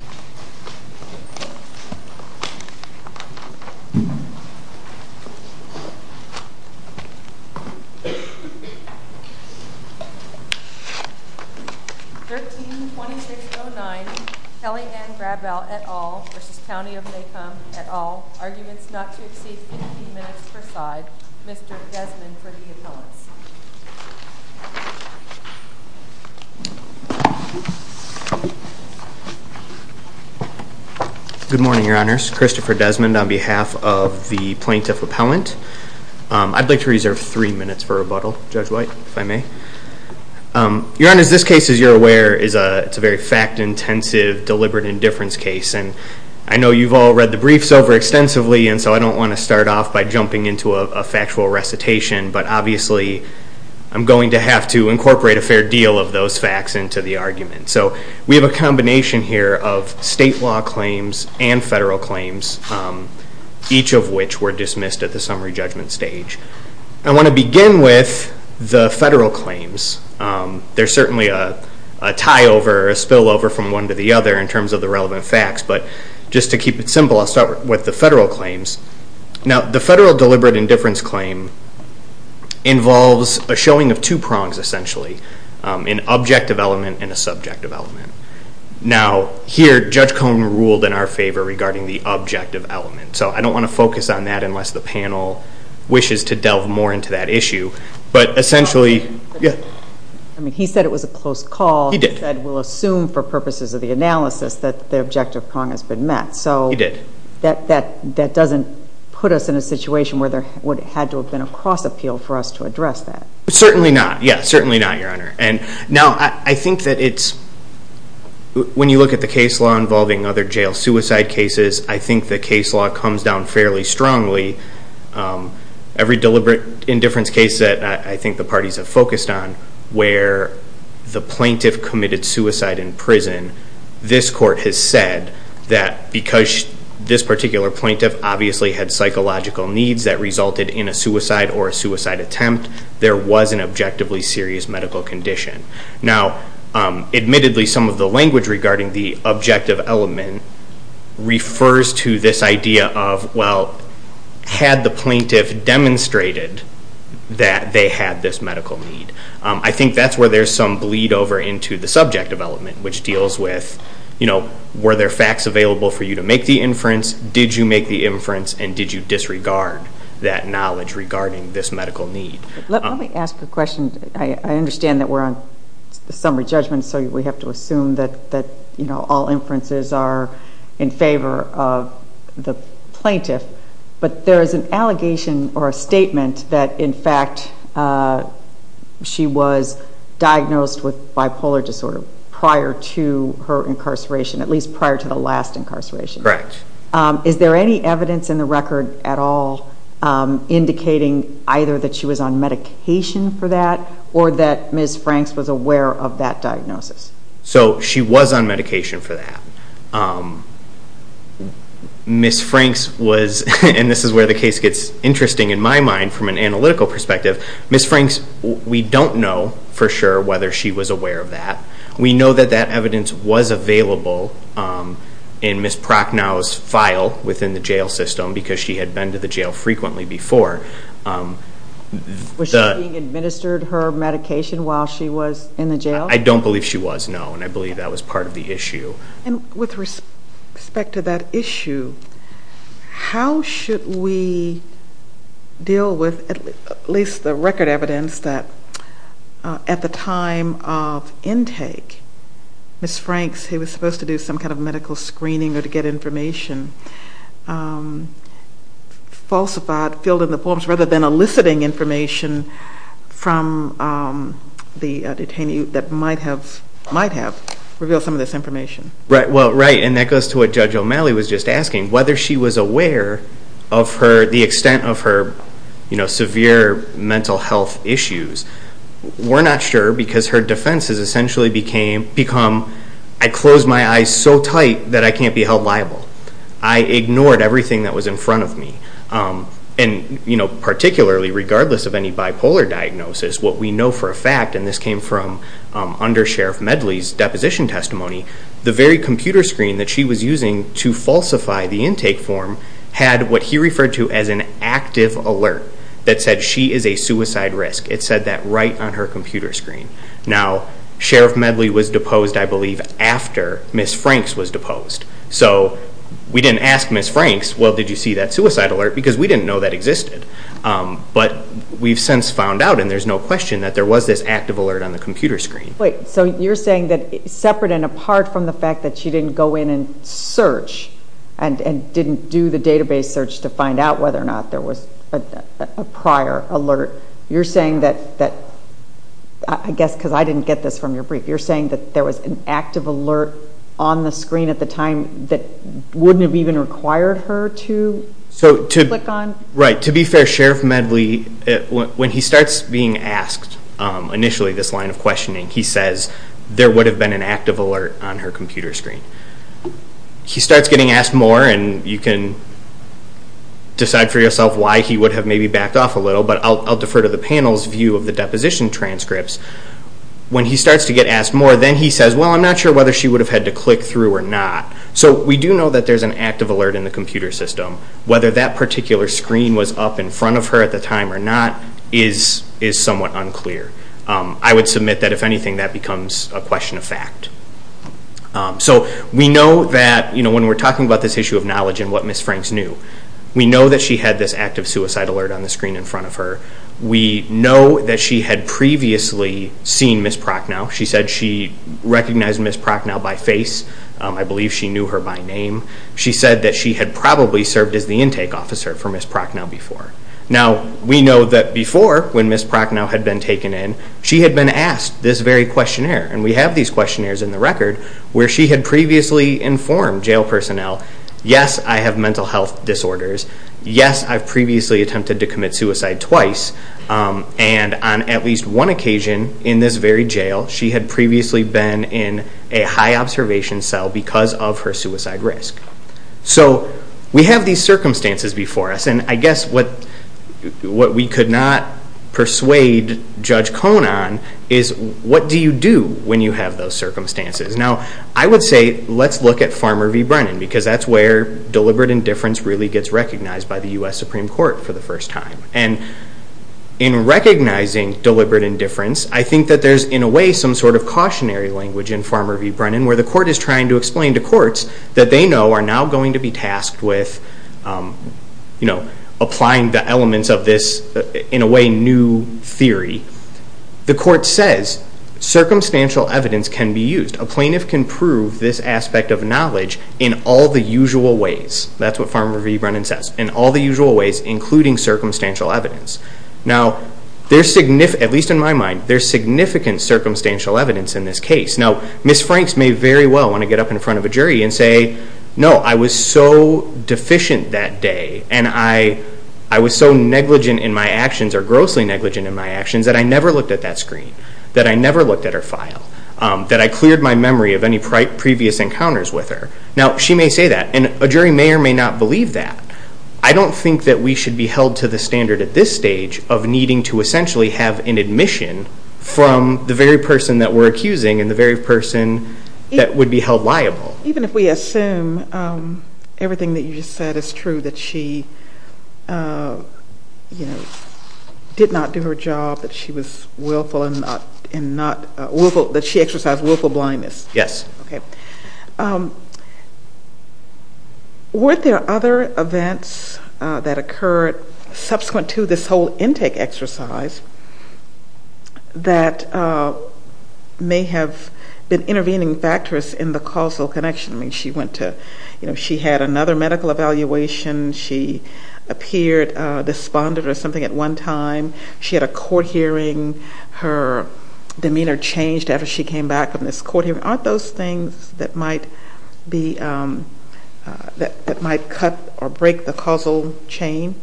132609 Kelli Ann Grabow et al. v. County of Macomb et al., arguments not to exceed fifteen minutes per side. Mr. Desmond for the appellants. Good morning, Your Honors. Christopher Desmond on behalf of the plaintiff appellant. I'd like to reserve three minutes for rebuttal. Judge White, if I may. Your Honors, this case, as you're aware, is a very fact-intensive, deliberate indifference case, and I know you've all read the briefs over extensively, and so I don't want to start off by jumping into a factual recitation, but obviously I'm going to have to incorporate a fair deal of those facts into the argument. So we have a combination here of state law claims and federal claims, each of which were dismissed at the summary judgment stage. I want to begin with the federal claims. There's certainly a tie-over, a spillover from one to the other in terms of the relevant facts, but just to keep it simple, I'll start with the federal claims. Now, the federal deliberate indifference claim involves a showing of two prongs, essentially, an objective element and a subjective element. Now, here, Judge Cone ruled in our favor regarding the objective element, so I don't want to focus on that unless the panel wishes to delve more into that issue. I mean, he said it was a close call. He did. He said, we'll assume for purposes of the analysis that the objective prong has been met. He did. So that doesn't put us in a situation where there would have had to have been a cross-appeal for us to address that. Certainly not. Yeah, certainly not, Your Honor. Now, I think that it's, when you look at the case law involving other jail suicide cases, I think the case law comes down fairly strongly. Every deliberate indifference case that I think the parties have focused on where the plaintiff committed suicide in prison, this court has said that because this particular plaintiff obviously had psychological needs that resulted in a suicide or a suicide attempt, there was an objectively serious medical condition. Now, admittedly, some of the language regarding the objective element refers to this idea of, well, had the plaintiff demonstrated that they had this medical need? I think that's where there's some bleed over into the subjective element, which deals with, you know, were there facts available for you to make the inference, did you make the inference, and did you disregard that knowledge regarding this medical need? Let me ask a question. I understand that we're on summary judgment, so we have to assume that, you know, all inferences are in favor of the plaintiff. But there is an allegation or a statement that, in fact, she was diagnosed with bipolar disorder prior to her incarceration, at least prior to the last incarceration. Correct. Is there any evidence in the record at all indicating either that she was on medication for that or that Ms. Franks was aware of that diagnosis? So she was on medication for that. Ms. Franks was, and this is where the case gets interesting in my mind from an analytical perspective, Ms. Franks, we don't know for sure whether she was aware of that. We know that that evidence was available in Ms. Prochnow's file within the jail system because she had been to the jail frequently before. Was she being administered her medication while she was in the jail? I don't believe she was, no, and I believe that was part of the issue. And with respect to that issue, how should we deal with at least the record evidence that at the time of intake Ms. Franks, who was supposed to do some kind of medical screening or to get information, falsified, filled in the forms rather than eliciting information from the detainee that might have revealed some of this information? Well, right, and that goes to what Judge O'Malley was just asking, whether she was aware of the extent of her severe mental health issues. We're not sure because her defense has essentially become, I closed my eyes so tight that I can't be held liable. I ignored everything that was in front of me. And particularly regardless of any bipolar diagnosis, what we know for a fact, and this came from under Sheriff Medley's deposition testimony, the very computer screen that she was using to falsify the intake form had what he referred to as an active alert that said she is a suicide risk. It said that right on her computer screen. Now, Sheriff Medley was deposed, I believe, after Ms. Franks was deposed. So we didn't ask Ms. Franks, well, did you see that suicide alert? Because we didn't know that existed. But we've since found out, and there's no question, that there was this active alert on the computer screen. Wait, so you're saying that separate and apart from the fact that she didn't go in and search and didn't do the database search to find out whether or not there was a prior alert, you're saying that, I guess because I didn't get this from your brief, you're saying that there was an active alert on the screen at the time that wouldn't have even required her to click on? Right. To be fair, Sheriff Medley, when he starts being asked initially this line of questioning, he says there would have been an active alert on her computer screen. He starts getting asked more, and you can decide for yourself why he would have maybe backed off a little, but I'll defer to the panel's view of the deposition transcripts. When he starts to get asked more, then he says, well, I'm not sure whether she would have had to click through or not. So we do know that there's an active alert in the computer system. Whether that particular screen was up in front of her at the time or not is somewhat unclear. I would submit that, if anything, that becomes a question of fact. So we know that when we're talking about this issue of knowledge and what Ms. Franks knew, we know that she had this active suicide alert on the screen in front of her. We know that she had previously seen Ms. Prochnow. She said she recognized Ms. Prochnow by face. I believe she knew her by name. She said that she had probably served as the intake officer for Ms. Prochnow before. Now, we know that before, when Ms. Prochnow had been taken in, she had been asked this very questionnaire, and we have these questionnaires in the record where she had previously informed jail personnel, yes, I have mental health disorders, yes, I've previously attempted to commit suicide twice, and on at least one occasion in this very jail, she had previously been in a high-observation cell because of her suicide risk. So we have these circumstances before us, and I guess what we could not persuade Judge Kohn on is, what do you do when you have those circumstances? Now, I would say let's look at Farmer v. Brennan, because that's where deliberate indifference really gets recognized by the U.S. Supreme Court for the first time. And in recognizing deliberate indifference, I think that there's, in a way, some sort of cautionary language in Farmer v. Brennan applying the elements of this, in a way, new theory. The court says circumstantial evidence can be used. A plaintiff can prove this aspect of knowledge in all the usual ways. That's what Farmer v. Brennan says, in all the usual ways, including circumstantial evidence. Now, there's significant, at least in my mind, there's significant circumstantial evidence in this case. Now, Ms. Franks may very well want to get up in front of a jury and say, no, I was so deficient that day, and I was so negligent in my actions, or grossly negligent in my actions, that I never looked at that screen, that I never looked at her file, that I cleared my memory of any previous encounters with her. Now, she may say that, and a jury may or may not believe that. I don't think that we should be held to the standard at this stage of needing to essentially have an admission from the very person that we're accusing and the very person that would be held liable. Even if we assume everything that you just said is true, that she, you know, did not do her job, that she was willful and not, that she exercised willful blindness. Yes. Okay. Were there other events that occurred subsequent to this whole intake exercise that may have been intervening factors in the causal connection? I mean, she went to, you know, she had another medical evaluation. She appeared despondent or something at one time. She had a court hearing. Her demeanor changed after she came back from this court hearing. Aren't those things that might be, that might cut or break the causal chain,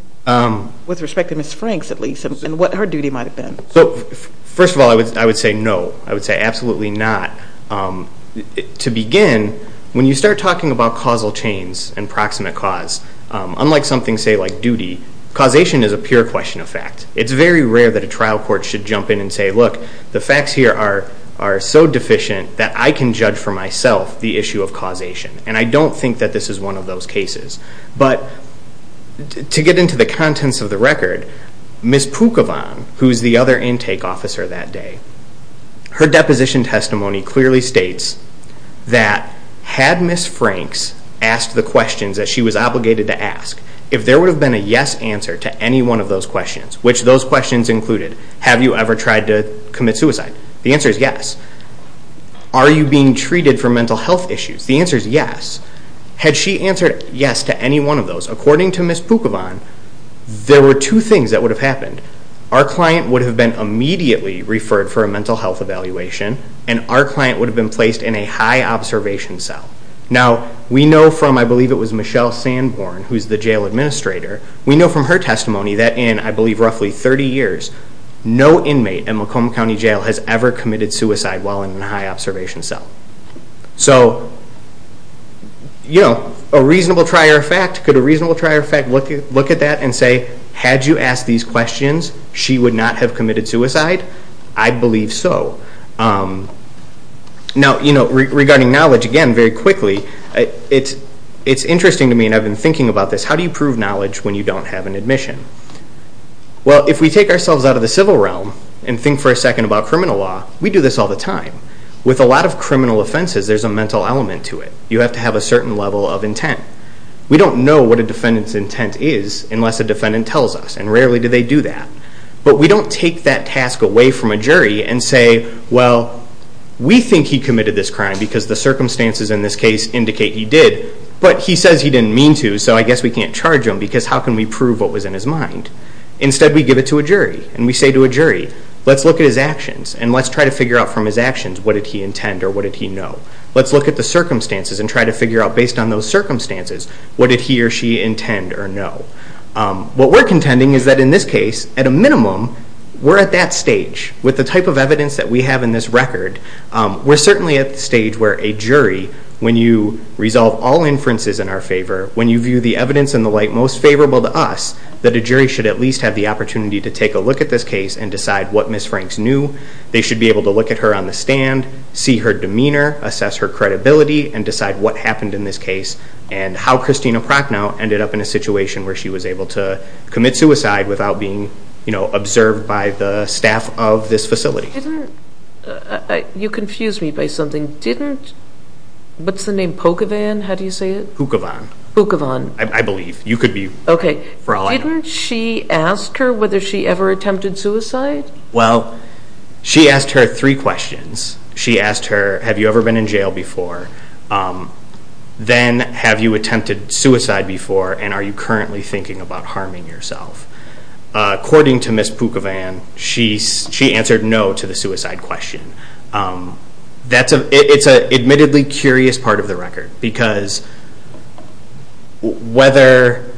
with respect to Ms. Franks, at least, and what her duty might have been? So, first of all, I would say no. I would say absolutely not. To begin, when you start talking about causal chains and proximate cause, unlike something, say, like duty, causation is a pure question of fact. It's very rare that a trial court should jump in and say, look, the facts here are so deficient that I can judge for myself the issue of causation, and I don't think that this is one of those cases. But to get into the contents of the record, Ms. Pookavan, who is the other intake officer that day, her deposition testimony clearly states that had Ms. Franks asked the questions that she was obligated to ask, if there would have been a yes answer to any one of those questions, which those questions included, have you ever tried to commit suicide? The answer is yes. Are you being treated for mental health issues? The answer is yes. Had she answered yes to any one of those, according to Ms. Pookavan, there were two things that would have happened. Our client would have been immediately referred for a mental health evaluation, and our client would have been placed in a high-observation cell. Now, we know from, I believe it was Michelle Sanborn, who is the jail administrator, we know from her testimony that in, I believe, roughly 30 years, no inmate at Macomb County Jail has ever committed suicide while in a high-observation cell. So, you know, a reasonable trier of fact, could a reasonable trier of fact look at that and say, had you asked these questions, she would not have committed suicide? I believe so. Now, you know, regarding knowledge, again, very quickly, it's interesting to me, and I've been thinking about this, how do you prove knowledge when you don't have an admission? Well, if we take ourselves out of the civil realm and think for a second about criminal law, we do this all the time. With a lot of criminal offenses, there's a mental element to it. You have to have a certain level of intent. We don't know what a defendant's intent is unless a defendant tells us, and rarely do they do that. But we don't take that task away from a jury and say, well, we think he committed this crime because the circumstances in this case indicate he did, but he says he didn't mean to, so I guess we can't charge him, because how can we prove what was in his mind? Instead, we give it to a jury, and we say to a jury, let's look at his actions, and let's try to figure out from his actions, what did he intend or what did he know? Let's look at the circumstances and try to figure out, based on those circumstances, what did he or she intend or know? What we're contending is that in this case, at a minimum, we're at that stage with the type of evidence that we have in this record. We're certainly at the stage where a jury, when you resolve all inferences in our favor, when you view the evidence and the like most favorable to us, that a jury should at least have the opportunity to take a look at this case and decide what Ms. Franks knew. They should be able to look at her on the stand, see her demeanor, assess her credibility, and decide what happened in this case and how Christina Prochnow ended up in a situation where she was able to commit suicide without being observed by the staff of this facility. You confuse me by something. Didn't, what's the name, Pocavan, how do you say it? Pocavan. Pocavan. I believe. You could be wrong. Didn't she ask her whether she ever attempted suicide? Well, she asked her three questions. She asked her, have you ever been in jail before? Then, have you attempted suicide before? And are you currently thinking about harming yourself? According to Ms. Pocavan, she answered no to the suicide question. That's a, it's an admittedly curious part of the record because whether,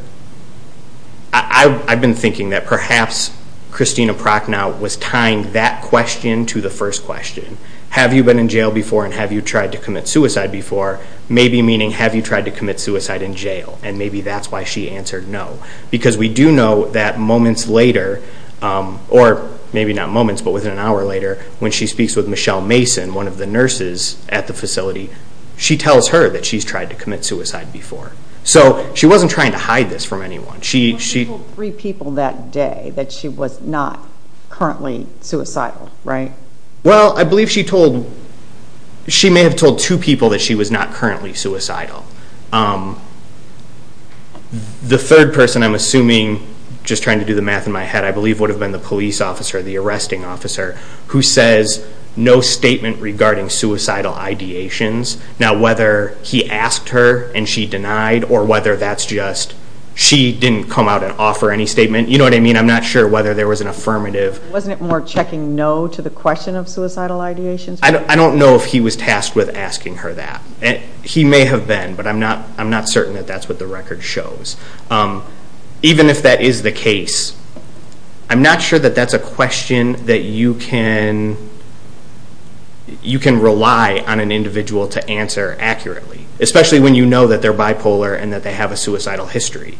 I've been thinking that perhaps Christina Prochnow was tying that question to the first question. Have you been in jail before and have you tried to commit suicide before? Maybe meaning, have you tried to commit suicide in jail? And maybe that's why she answered no. Because we do know that moments later, or maybe not moments, but within an hour later, when she speaks with Michelle Mason, one of the nurses at the facility, she tells her that she's tried to commit suicide before. So she wasn't trying to hide this from anyone. Well, she told three people that day that she was not currently suicidal, right? Well, I believe she told, she may have told two people that she was not currently suicidal. The third person, I'm assuming, just trying to do the math in my head, I believe would have been the police officer, the arresting officer, who says no statement regarding suicidal ideations. Now, whether he asked her and she denied, or whether that's just she didn't come out and offer any statement, you know what I mean, I'm not sure whether there was an affirmative. Wasn't it more checking no to the question of suicidal ideations? I don't know if he was tasked with asking her that. He may have been, but I'm not certain that that's what the record shows. Even if that is the case, I'm not sure that that's a question that you can rely on an individual to answer accurately, especially when you know that they're bipolar and that they have a suicidal history.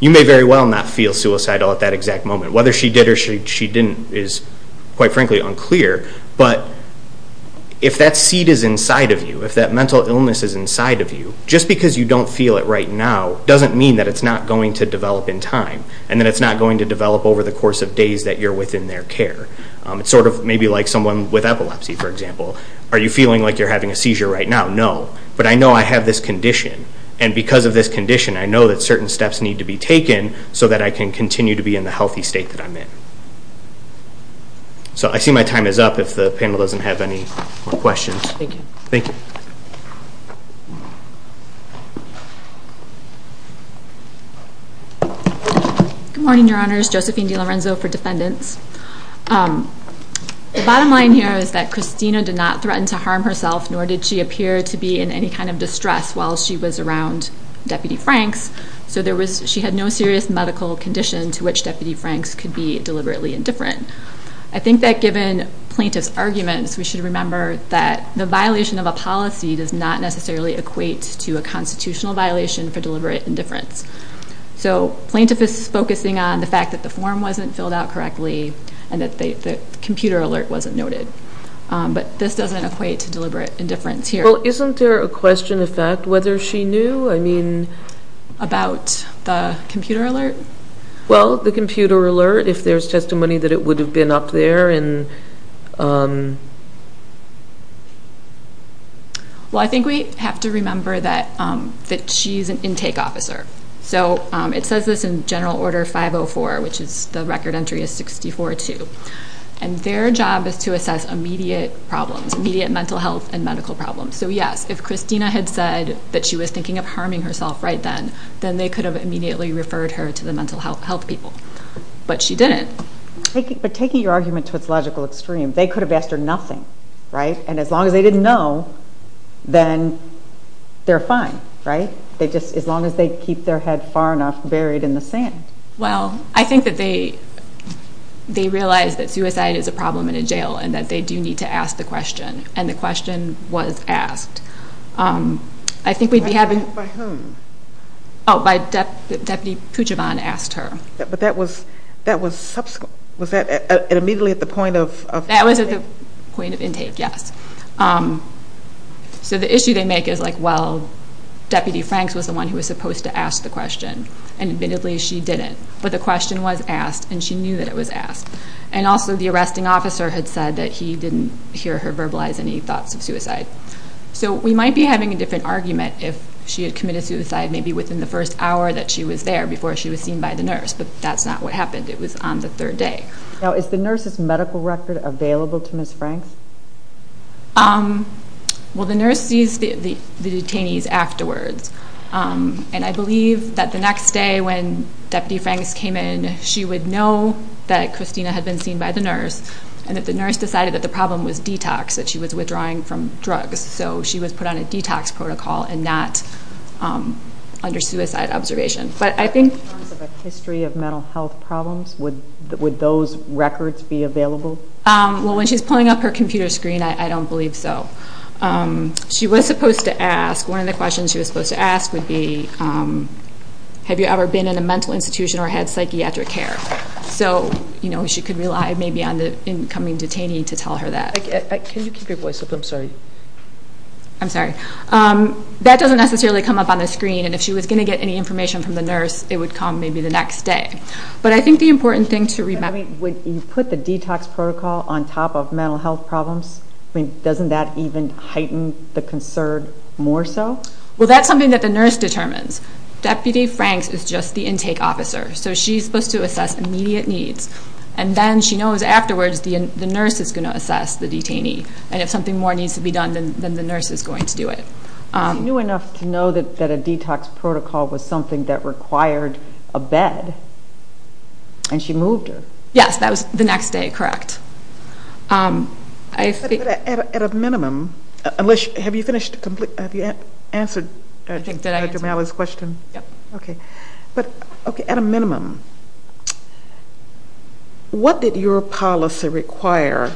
You may very well not feel suicidal at that exact moment. Whether she did or she didn't is, quite frankly, unclear. But if that seed is inside of you, if that mental illness is inside of you, just because you don't feel it right now doesn't mean that it's not going to develop in time and that it's not going to develop over the course of days that you're within their care. It's sort of maybe like someone with epilepsy, for example. Are you feeling like you're having a seizure right now? No. But I know I have this condition, and because of this condition, I know that certain steps need to be taken so that I can continue to be in the healthy state that I'm in. So I see my time is up if the panel doesn't have any more questions. Thank you. Thank you. Good morning, Your Honors. Josephine DiLorenzo for defendants. The bottom line here is that Christina did not threaten to harm herself, nor did she appear to be in any kind of distress while she was around Deputy Franks. So she had no serious medical condition to which Deputy Franks could be deliberately indifferent. I think that given plaintiff's arguments, we should remember that the violation of a policy does not necessarily equate to a constitutional violation for deliberate indifference. So plaintiff is focusing on the fact that the form wasn't filled out correctly and that the computer alert wasn't noted. But this doesn't equate to deliberate indifference here. Well, isn't there a question of fact whether she knew, I mean? About the computer alert? Well, the computer alert, if there's testimony that it would have been up there. Well, I think we have to remember that she's an intake officer. So it says this in General Order 504, which is the record entry is 64-2. And their job is to assess immediate problems, immediate mental health and medical problems. So, yes, if Christina had said that she was thinking of harming herself right then, then they could have immediately referred her to the mental health people. But she didn't. But taking your argument to its logical extreme, they could have asked her nothing, right? And as long as they didn't know, then they're fine, right? As long as they keep their head far enough buried in the sand. Well, I think that they realize that suicide is a problem in a jail and that they do need to ask the question. And the question was asked. I think we'd be having... By whom? Oh, by Deputy Poochavon asked her. But that was immediately at the point of intake? That was at the point of intake, yes. So the issue they make is, like, well, Deputy Franks was the one who was supposed to ask the question. And admittedly, she didn't. But the question was asked, and she knew that it was asked. And also the arresting officer had said that he didn't hear her verbalize any thoughts of suicide. So we might be having a different argument if she had committed suicide maybe within the first hour that she was there, before she was seen by the nurse. But that's not what happened. It was on the third day. Now, is the nurse's medical record available to Ms. Franks? Well, the nurse sees the detainees afterwards. And I believe that the next day when Deputy Franks came in, she would know that Christina had been seen by the nurse and that the nurse decided that the problem was detox, that she was withdrawing from drugs. So she was put on a detox protocol and not under suicide observation. But I think... In terms of a history of mental health problems, would those records be available? Well, when she's pulling up her computer screen, I don't believe so. She was supposed to ask, one of the questions she was supposed to ask would be, have you ever been in a mental institution or had psychiatric care? So she could rely maybe on the incoming detainee to tell her that. Can you keep your voice up? I'm sorry. I'm sorry. That doesn't necessarily come up on the screen. And if she was going to get any information from the nurse, it would come maybe the next day. But I think the important thing to remember... When you put the detox protocol on top of mental health problems, doesn't that even heighten the concern more so? Well, that's something that the nurse determines. Deputy Franks is just the intake officer, so she's supposed to assess immediate needs. And then she knows afterwards the nurse is going to assess the detainee. And if something more needs to be done, then the nurse is going to do it. She knew enough to know that a detox protocol was something that required a bed, and she moved her. Yes, that was the next day, correct. At a minimum, have you answered Dr. Malloy's question? Yes. Okay. At a minimum, what did your policy require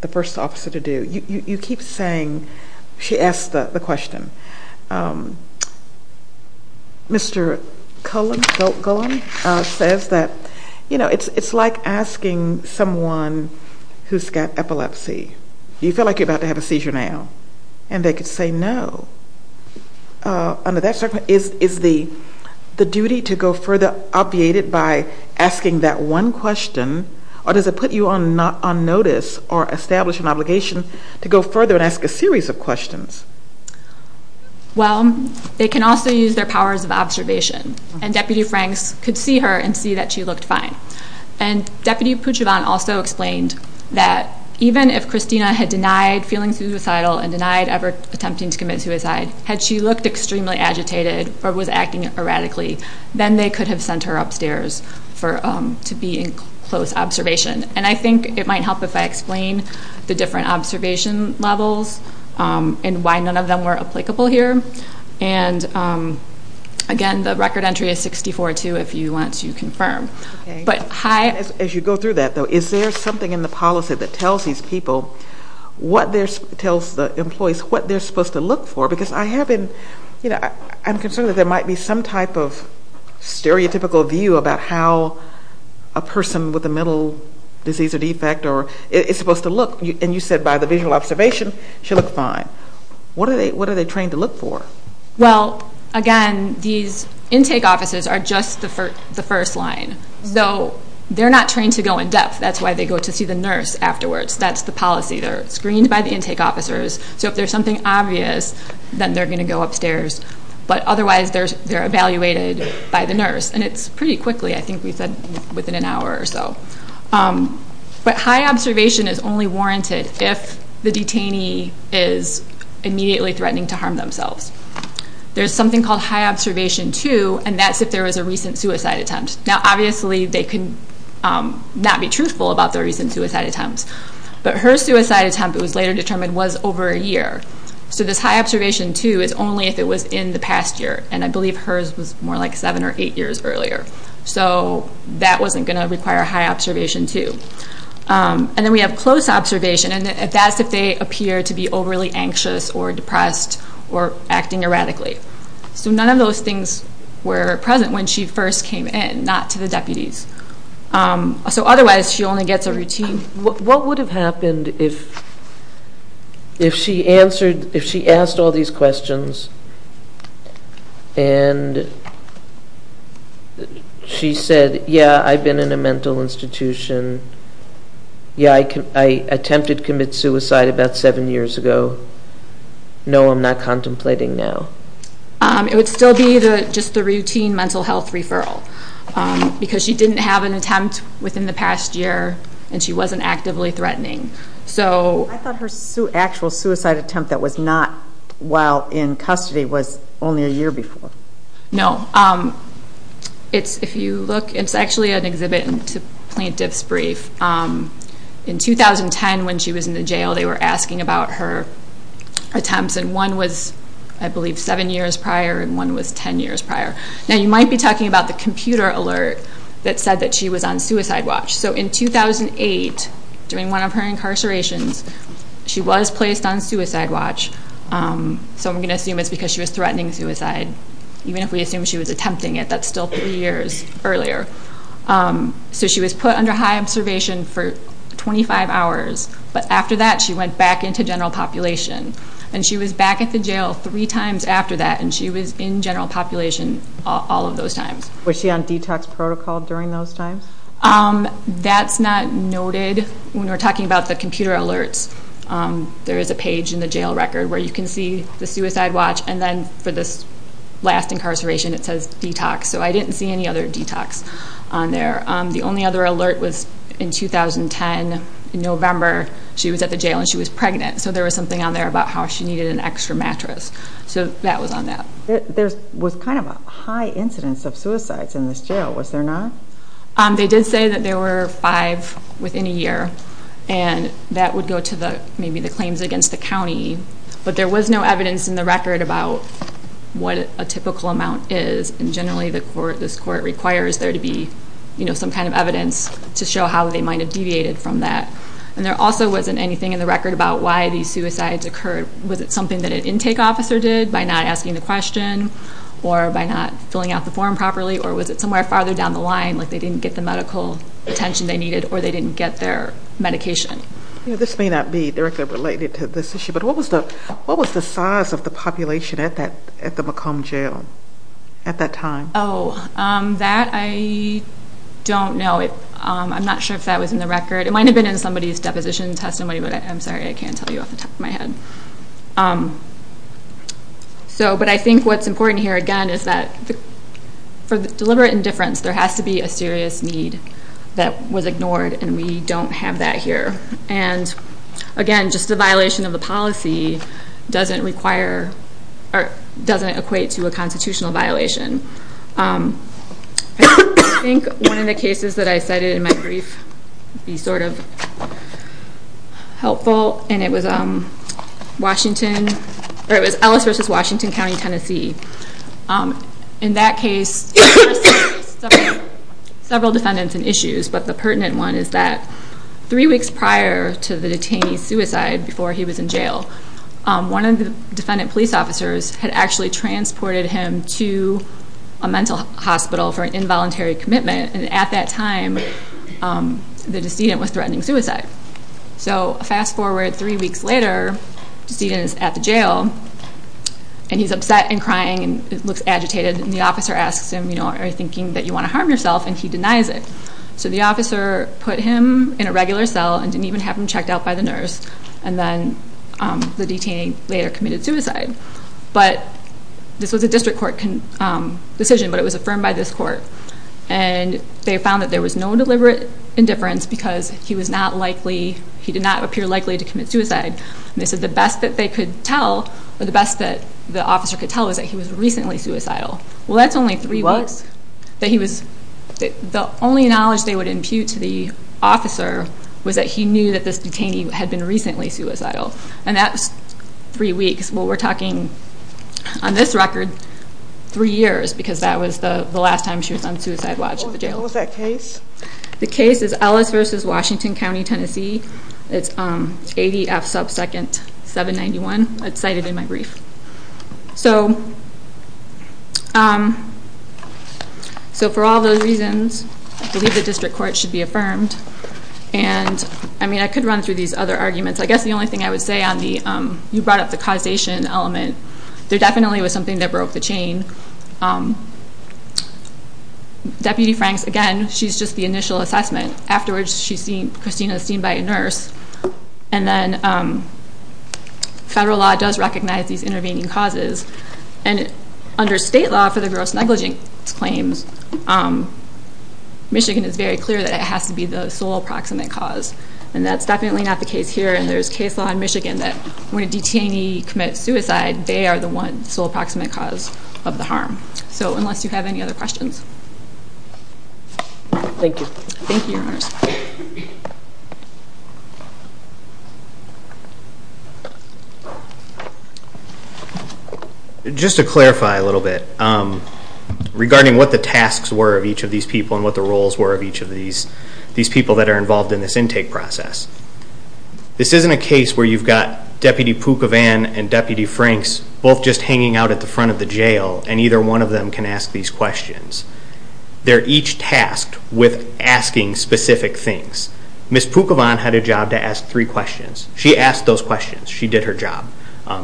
the first officer to do? You keep saying she asked the question. Okay. Mr. Cullen says that it's like asking someone who's got epilepsy, do you feel like you're about to have a seizure now? And they could say no. Under that circumstance, is the duty to go further obviated by asking that one question, or does it put you on notice or establish an obligation to go further and ask a series of questions? Well, they can also use their powers of observation. And Deputy Franks could see her and see that she looked fine. And Deputy Pucivan also explained that even if Christina had denied feeling suicidal and denied ever attempting to commit suicide, had she looked extremely agitated or was acting erratically, then they could have sent her upstairs to be in close observation. And I think it might help if I explain the different observation levels and why none of them were applicable here. And, again, the record entry is 64-2 if you want to confirm. As you go through that, though, is there something in the policy that tells these people, tells the employees what they're supposed to look for? Because I'm concerned that there might be some type of stereotypical view about how a person with a mental disease or defect is supposed to look. And you said by the visual observation, she looked fine. What are they trained to look for? Well, again, these intake offices are just the first line. So they're not trained to go in depth. That's why they go to see the nurse afterwards. That's the policy. They're screened by the intake officers. So if there's something obvious, then they're going to go upstairs. But otherwise, they're evaluated by the nurse. And it's pretty quickly. I think we said within an hour or so. But high observation is only warranted if the detainee is immediately threatening to harm themselves. There's something called high observation 2, and that's if there was a recent suicide attempt. Now, obviously, they could not be truthful about their recent suicide attempts. But her suicide attempt, it was later determined, was over a year. So this high observation 2 is only if it was in the past year. And I believe hers was more like seven or eight years earlier. So that wasn't going to require high observation 2. And then we have close observation. And that's if they appear to be overly anxious or depressed or acting erratically. So none of those things were present when she first came in, not to the deputies. So otherwise, she only gets a routine. What would have happened if she asked all these questions and she said, yeah, I've been in a mental institution. Yeah, I attempted to commit suicide about seven years ago. No, I'm not contemplating now. It would still be just the routine mental health referral because she didn't have an attempt within the past year, and she wasn't actively threatening. I thought her actual suicide attempt that was not while in custody was only a year before. No. If you look, it's actually an exhibit to plaintiff's brief. In 2010, when she was in the jail, they were asking about her attempts, and one was, I believe, seven years prior and one was 10 years prior. Now, you might be talking about the computer alert that said that she was on suicide watch. So in 2008, during one of her incarcerations, she was placed on suicide watch. So I'm going to assume it's because she was threatening suicide, even if we assume she was attempting it. That's still three years earlier. So she was put under high observation for 25 hours. But after that, she went back into general population. And she was back at the jail three times after that, and she was in general population all of those times. Was she on detox protocol during those times? That's not noted. When we're talking about the computer alerts, there is a page in the jail record where you can see the suicide watch, and then for this last incarceration, it says detox. So I didn't see any other detox on there. The only other alert was in 2010, in November. She was at the jail, and she was pregnant. So there was something on there about how she needed an extra mattress. So that was on that. There was kind of a high incidence of suicides in this jail, was there not? They did say that there were five within a year, and that would go to maybe the claims against the county. But there was no evidence in the record about what a typical amount is, and generally this court requires there to be some kind of evidence to show how they might have deviated from that. And there also wasn't anything in the record about why these suicides occurred. Was it something that an intake officer did by not asking the question or by not filling out the form properly, or was it somewhere farther down the line, like they didn't get the medical attention they needed or they didn't get their medication? This may not be directly related to this issue, but what was the size of the population at the McComb jail at that time? Oh, that I don't know. I'm not sure if that was in the record. It might have been in somebody's deposition testimony, but I'm sorry, I can't tell you off the top of my head. But I think what's important here, again, is that for deliberate indifference, there has to be a serious need that was ignored, and we don't have that here. And again, just a violation of the policy doesn't require or doesn't equate to a constitutional violation. I think one of the cases that I cited in my brief would be sort of helpful, and it was Ellis v. Washington County, Tennessee. In that case, there were several defendants and issues, but the pertinent one is that three weeks prior to the detainee's suicide, before he was in jail, one of the defendant police officers had actually transported him to a mental hospital for an involuntary commitment, and at that time the decedent was threatening suicide. So fast forward three weeks later, the decedent is at the jail, and he's upset and crying and looks agitated, and the officer asks him, are you thinking that you want to harm yourself, and he denies it. So the officer put him in a regular cell and didn't even have him checked out by the nurse, and then the detainee later committed suicide. But this was a district court decision, but it was affirmed by this court, and they found that there was no deliberate indifference because he did not appear likely to commit suicide. And they said the best that they could tell, or the best that the officer could tell, was that he was recently suicidal. Well, that's only three weeks. The only knowledge they would impute to the officer was that he knew that this detainee had been recently suicidal. And that's three weeks. Well, we're talking, on this record, three years because that was the last time she was on suicide watch at the jail. What was that case? The case is Ellis v. Washington County, Tennessee. It's ADF sub second 791. It's cited in my brief. So for all those reasons, I believe the district court should be affirmed. And, I mean, I could run through these other arguments. I guess the only thing I would say on the you brought up the causation element, there definitely was something that broke the chain. Deputy Franks, again, she's just the initial assessment. Afterwards, Christina is seen by a nurse. And then federal law does recognize these intervening causes. And under state law for the gross negligence claims, Michigan is very clear that it has to be the sole approximate cause. And that's definitely not the case here. And there's case law in Michigan that when a detainee commits suicide, they are the one sole approximate cause of the harm. So unless you have any other questions. Thank you. Thank you, Your Honor. Just to clarify a little bit regarding what the tasks were of each of these people and what the roles were of each of these people that are involved in this intake process. This isn't a case where you've got Deputy Pookavan and Deputy Franks both just hanging out at the front of the jail, and either one of them can ask these questions. They're each tasked with asking specific things. Ms. Pookavan had a job to ask three questions. She asked those questions. She did her job.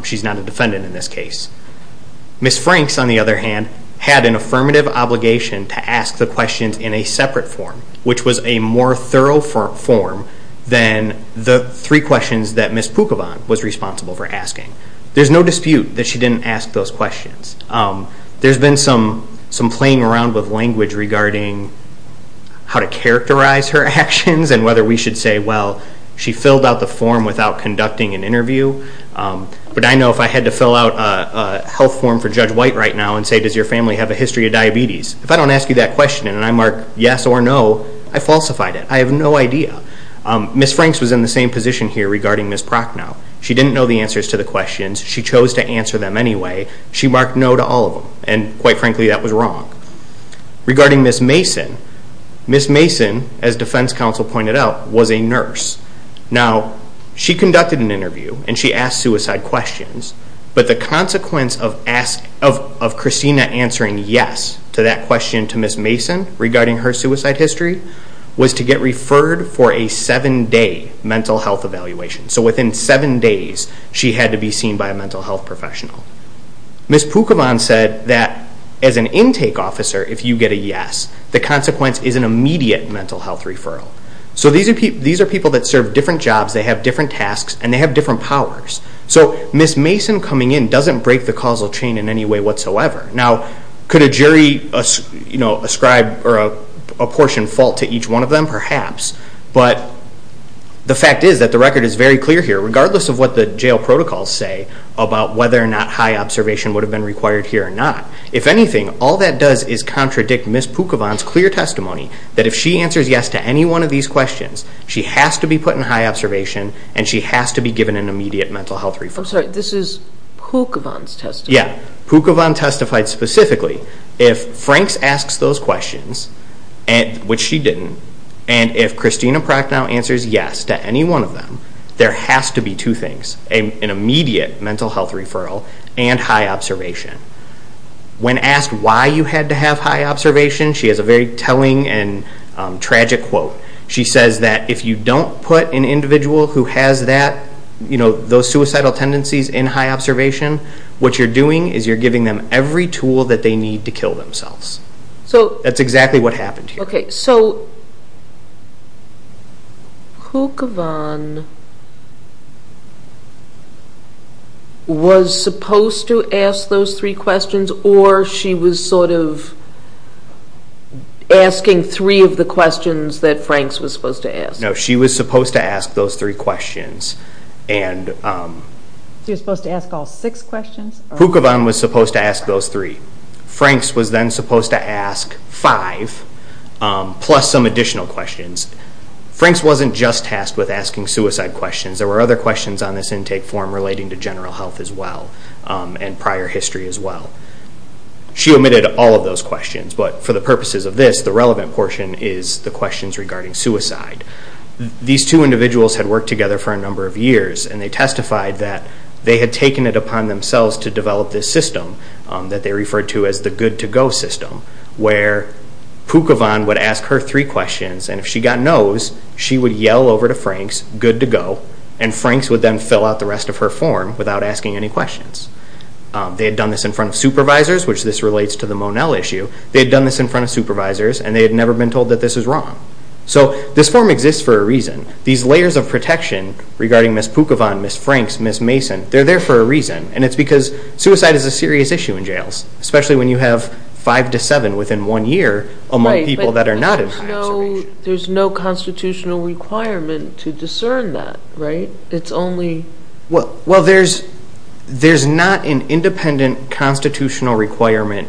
She's not a defendant in this case. Ms. Franks, on the other hand, had an affirmative obligation to ask the questions in a separate form, which was a more thorough form than the three questions that Ms. Pookavan was responsible for asking. There's no dispute that she didn't ask those questions. There's been some playing around with language regarding how to characterize her actions and whether we should say, well, she filled out the form without conducting an interview. But I know if I had to fill out a health form for Judge White right now and say, does your family have a history of diabetes, if I don't ask you that question and I mark yes or no, I falsified it. I have no idea. Ms. Franks was in the same position here regarding Ms. Prochnow. She didn't know the answers to the questions. She chose to answer them anyway. She marked no to all of them, and quite frankly, that was wrong. Regarding Ms. Mason, Ms. Mason, as defense counsel pointed out, was a nurse. Now, she conducted an interview and she asked suicide questions, but the consequence of Christina answering yes to that question to Ms. Mason regarding her suicide history was to get referred for a seven-day mental health evaluation. So within seven days, she had to be seen by a mental health professional. Ms. Pookavan said that as an intake officer, if you get a yes, the consequence is an immediate mental health referral. So these are people that serve different jobs, they have different tasks, and they have different powers. So Ms. Mason coming in doesn't break the causal chain in any way whatsoever. Now, could a jury ascribe or apportion fault to each one of them? Perhaps. But the fact is that the record is very clear here. about whether or not high observation would have been required here or not. If anything, all that does is contradict Ms. Pookavan's clear testimony that if she answers yes to any one of these questions, she has to be put in high observation and she has to be given an immediate mental health referral. I'm sorry, this is Pookavan's testimony. Yeah, Pookavan testified specifically. If Franks asks those questions, which she didn't, and if Christina Procknow answers yes to any one of them, there has to be two things, an immediate mental health referral and high observation. When asked why you had to have high observation, she has a very telling and tragic quote. She says that if you don't put an individual who has that, you know, those suicidal tendencies in high observation, what you're doing is you're giving them every tool that they need to kill themselves. That's exactly what happened here. Okay, so Pookavan was supposed to ask those three questions or she was sort of asking three of the questions that Franks was supposed to ask? No, she was supposed to ask those three questions. She was supposed to ask all six questions? Pookavan was supposed to ask those three. Franks was then supposed to ask five plus some additional questions. Franks wasn't just tasked with asking suicide questions. There were other questions on this intake form relating to general health as well and prior history as well. She omitted all of those questions, but for the purposes of this, the relevant portion is the questions regarding suicide. These two individuals had worked together for a number of years, and they testified that they had taken it upon themselves to develop this system that they referred to as the good-to-go system, where Pookavan would ask her three questions, and if she got no's, she would yell over to Franks, good to go, and Franks would then fill out the rest of her form without asking any questions. They had done this in front of supervisors, which this relates to the Monel issue. They had done this in front of supervisors, and they had never been told that this was wrong. So this form exists for a reason. These layers of protection regarding Ms. Pookavan, Ms. Franks, Ms. Mason, they're there for a reason, and it's because suicide is a serious issue in jails, especially when you have five to seven within one year among people that are not in high-insertion. There's no constitutional requirement to discern that, right? It's only – Well, there's not an independent constitutional requirement,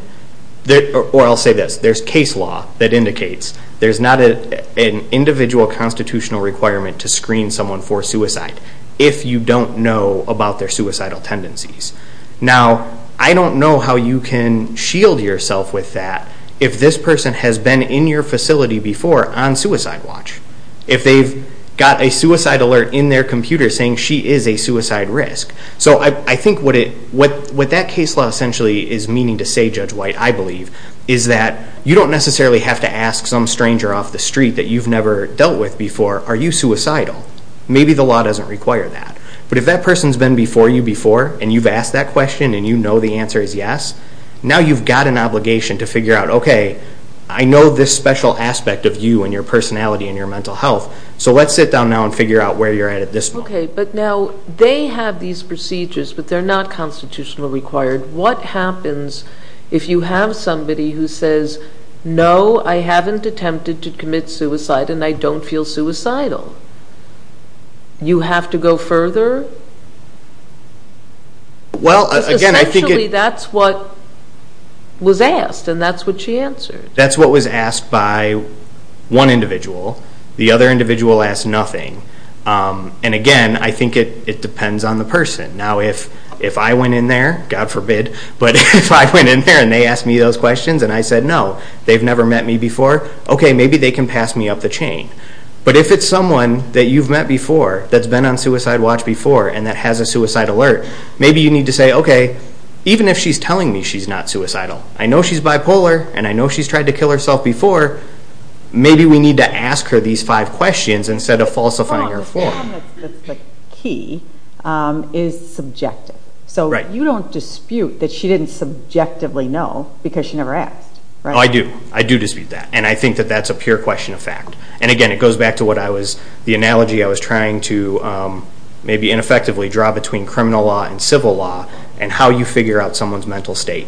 or I'll say this, there's case law that indicates there's not an individual constitutional requirement to screen someone for suicide if you don't know about their suicidal tendencies. Now, I don't know how you can shield yourself with that if this person has been in your facility before on suicide watch, if they've got a suicide alert in their computer saying she is a suicide risk. So I think what that case law essentially is meaning to say, Judge White, I believe, is that you don't necessarily have to ask some stranger off the street that you've never dealt with before, are you suicidal? Maybe the law doesn't require that. But if that person's been before you before, and you've asked that question, and you know the answer is yes, now you've got an obligation to figure out, okay, I know this special aspect of you and your personality and your mental health, so let's sit down now and figure out where you're at at this point. Okay, but now they have these procedures, but they're not constitutionally required. What happens if you have somebody who says, no, I haven't attempted to commit suicide, and I don't feel suicidal? You have to go further? Essentially, that's what was asked, and that's what she answered. That's what was asked by one individual. The other individual asked nothing. And again, I think it depends on the person. Now, if I went in there, God forbid, but if I went in there and they asked me those questions and I said no, they've never met me before, okay, maybe they can pass me up the chain. But if it's someone that you've met before that's been on suicide watch before and that has a suicide alert, maybe you need to say, okay, even if she's telling me she's not suicidal, I know she's bipolar, and I know she's tried to kill herself before, maybe we need to ask her these five questions instead of falsifying her form. The key is subjective. So you don't dispute that she didn't subjectively know because she never asked. I do. I do dispute that. And I think that that's a pure question of fact. And again, it goes back to the analogy I was trying to maybe ineffectively draw between criminal law and civil law and how you figure out someone's mental state.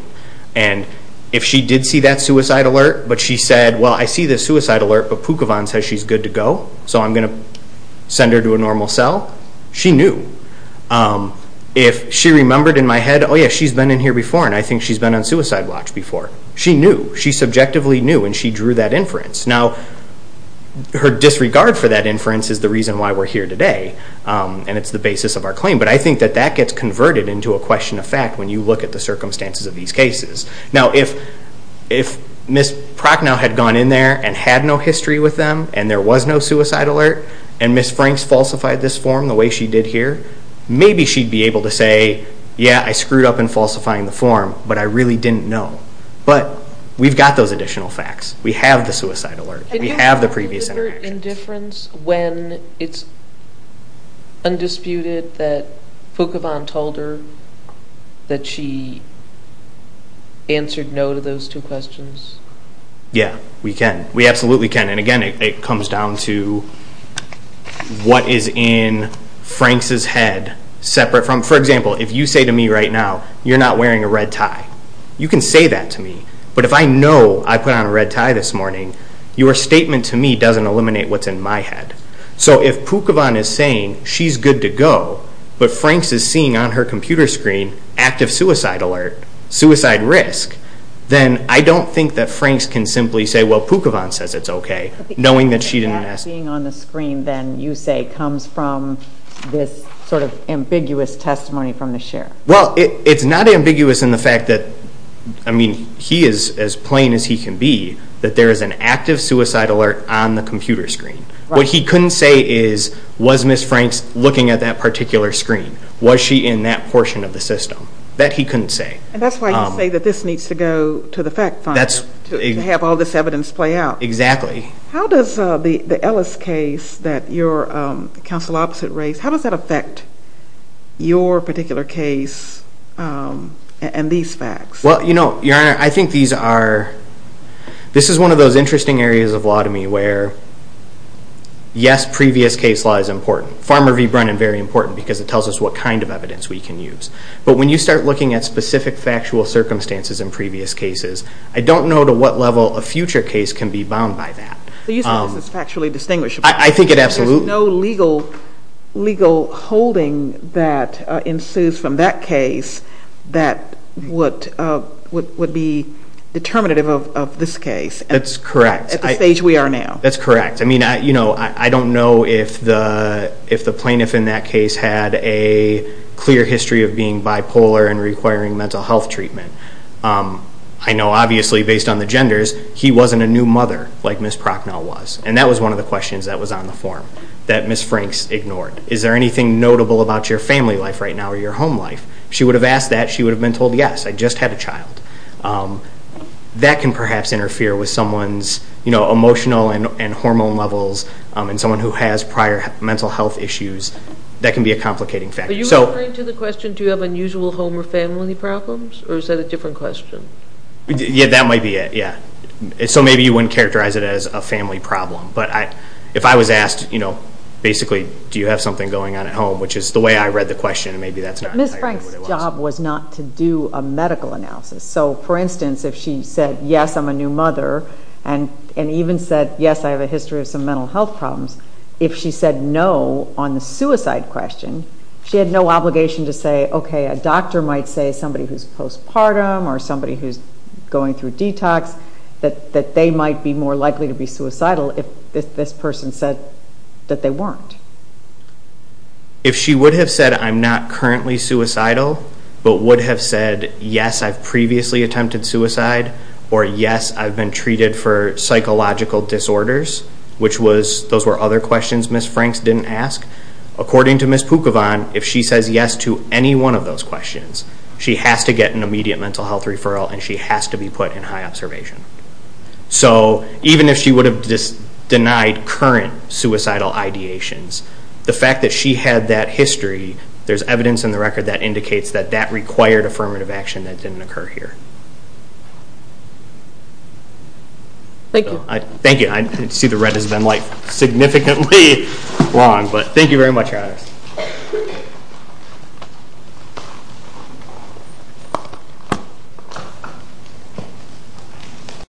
And if she did see that suicide alert, but she said, well, I see the suicide alert, but Pookavon says she's good to go, so I'm going to send her to a normal cell, she knew. If she remembered in my head, oh, yeah, she's been in here before and I think she's been on suicide watch before, she knew. She subjectively knew and she drew that inference. Now, her disregard for that inference is the reason why we're here today and it's the basis of our claim. But I think that that gets converted into a question of fact when you look at the circumstances of these cases. Now, if Ms. Prochnow had gone in there and had no history with them and there was no suicide alert and Ms. Franks falsified this form the way she did here, maybe she'd be able to say, yeah, I screwed up in falsifying the form, but I really didn't know. But we've got those additional facts. We have the suicide alert. We have the previous interactions. Can you show deliberate indifference when it's undisputed that Pookavon told her that she answered no to those two questions? Yeah, we can. We absolutely can. And, again, it comes down to what is in Franks' head separate from, for example, if you say to me right now, you're not wearing a red tie, you can say that to me. But if I know I put on a red tie this morning, your statement to me doesn't eliminate what's in my head. So if Pookavon is saying she's good to go, but Franks is seeing on her computer screen active suicide alert, suicide risk, then I don't think that Franks can simply say, well, Pookavon says it's okay, knowing that she didn't ask. That being on the screen, then, you say comes from this sort of ambiguous testimony from the sheriff. Well, it's not ambiguous in the fact that, I mean, he is as plain as he can be that there is an active suicide alert on the computer screen. What he couldn't say is, was Ms. Franks looking at that particular screen? Was she in that portion of the system? That he couldn't say. And that's why you say that this needs to go to the fact fund to have all this evidence play out. Exactly. How does the Ellis case that your counsel opposite raised, how does that affect your particular case and these facts? Well, you know, Your Honor, I think these are, this is one of those interesting areas of law to me where, yes, previous case law is important. Farmer v. Brennan, very important, because it tells us what kind of evidence we can use. But when you start looking at specific factual circumstances in previous cases, I don't know to what level a future case can be bound by that. But you say this is factually distinguishable. I think it absolutely is. There's no legal holding that ensues from that case that would be determinative of this case. That's correct. At the stage we are now. That's correct. I mean, I don't know if the plaintiff in that case had a clear history of being bipolar and requiring mental health treatment. I know, obviously, based on the genders, he wasn't a new mother like Ms. Prochnow was. And that was one of the questions that was on the form that Ms. Franks ignored. Is there anything notable about your family life right now or your home life? If she would have asked that, she would have been told, yes, I just had a child. That can perhaps interfere with someone's emotional and hormone levels and someone who has prior mental health issues. That can be a complicating factor. Are you referring to the question, do you have unusual home or family problems, or is that a different question? Yeah, that might be it, yeah. So maybe you wouldn't characterize it as a family problem. But if I was asked, basically, do you have something going on at home, which is the way I read the question, maybe that's not entirely what it was. Ms. Franks' job was not to do a medical analysis. So, for instance, if she said, yes, I'm a new mother, and even said, yes, I have a history of some mental health problems, if she said no on the suicide question, she had no obligation to say, okay, a doctor might say, somebody who's postpartum or somebody who's going through detox, that they might be more likely to be suicidal if this person said that they weren't. If she would have said, I'm not currently suicidal, but would have said, yes, I've previously attempted suicide, or yes, I've been treated for psychological disorders, which was, those were other questions Ms. Franks didn't ask. According to Ms. Pookavon, if she says yes to any one of those questions, she has to get an immediate mental health referral and she has to be put in high observation. So even if she would have just denied current suicidal ideations, the fact that she had that history, there's evidence in the record that indicates that that required affirmative action that didn't occur here. Thank you. Thank you. I see the red has been like significantly long, but thank you very much.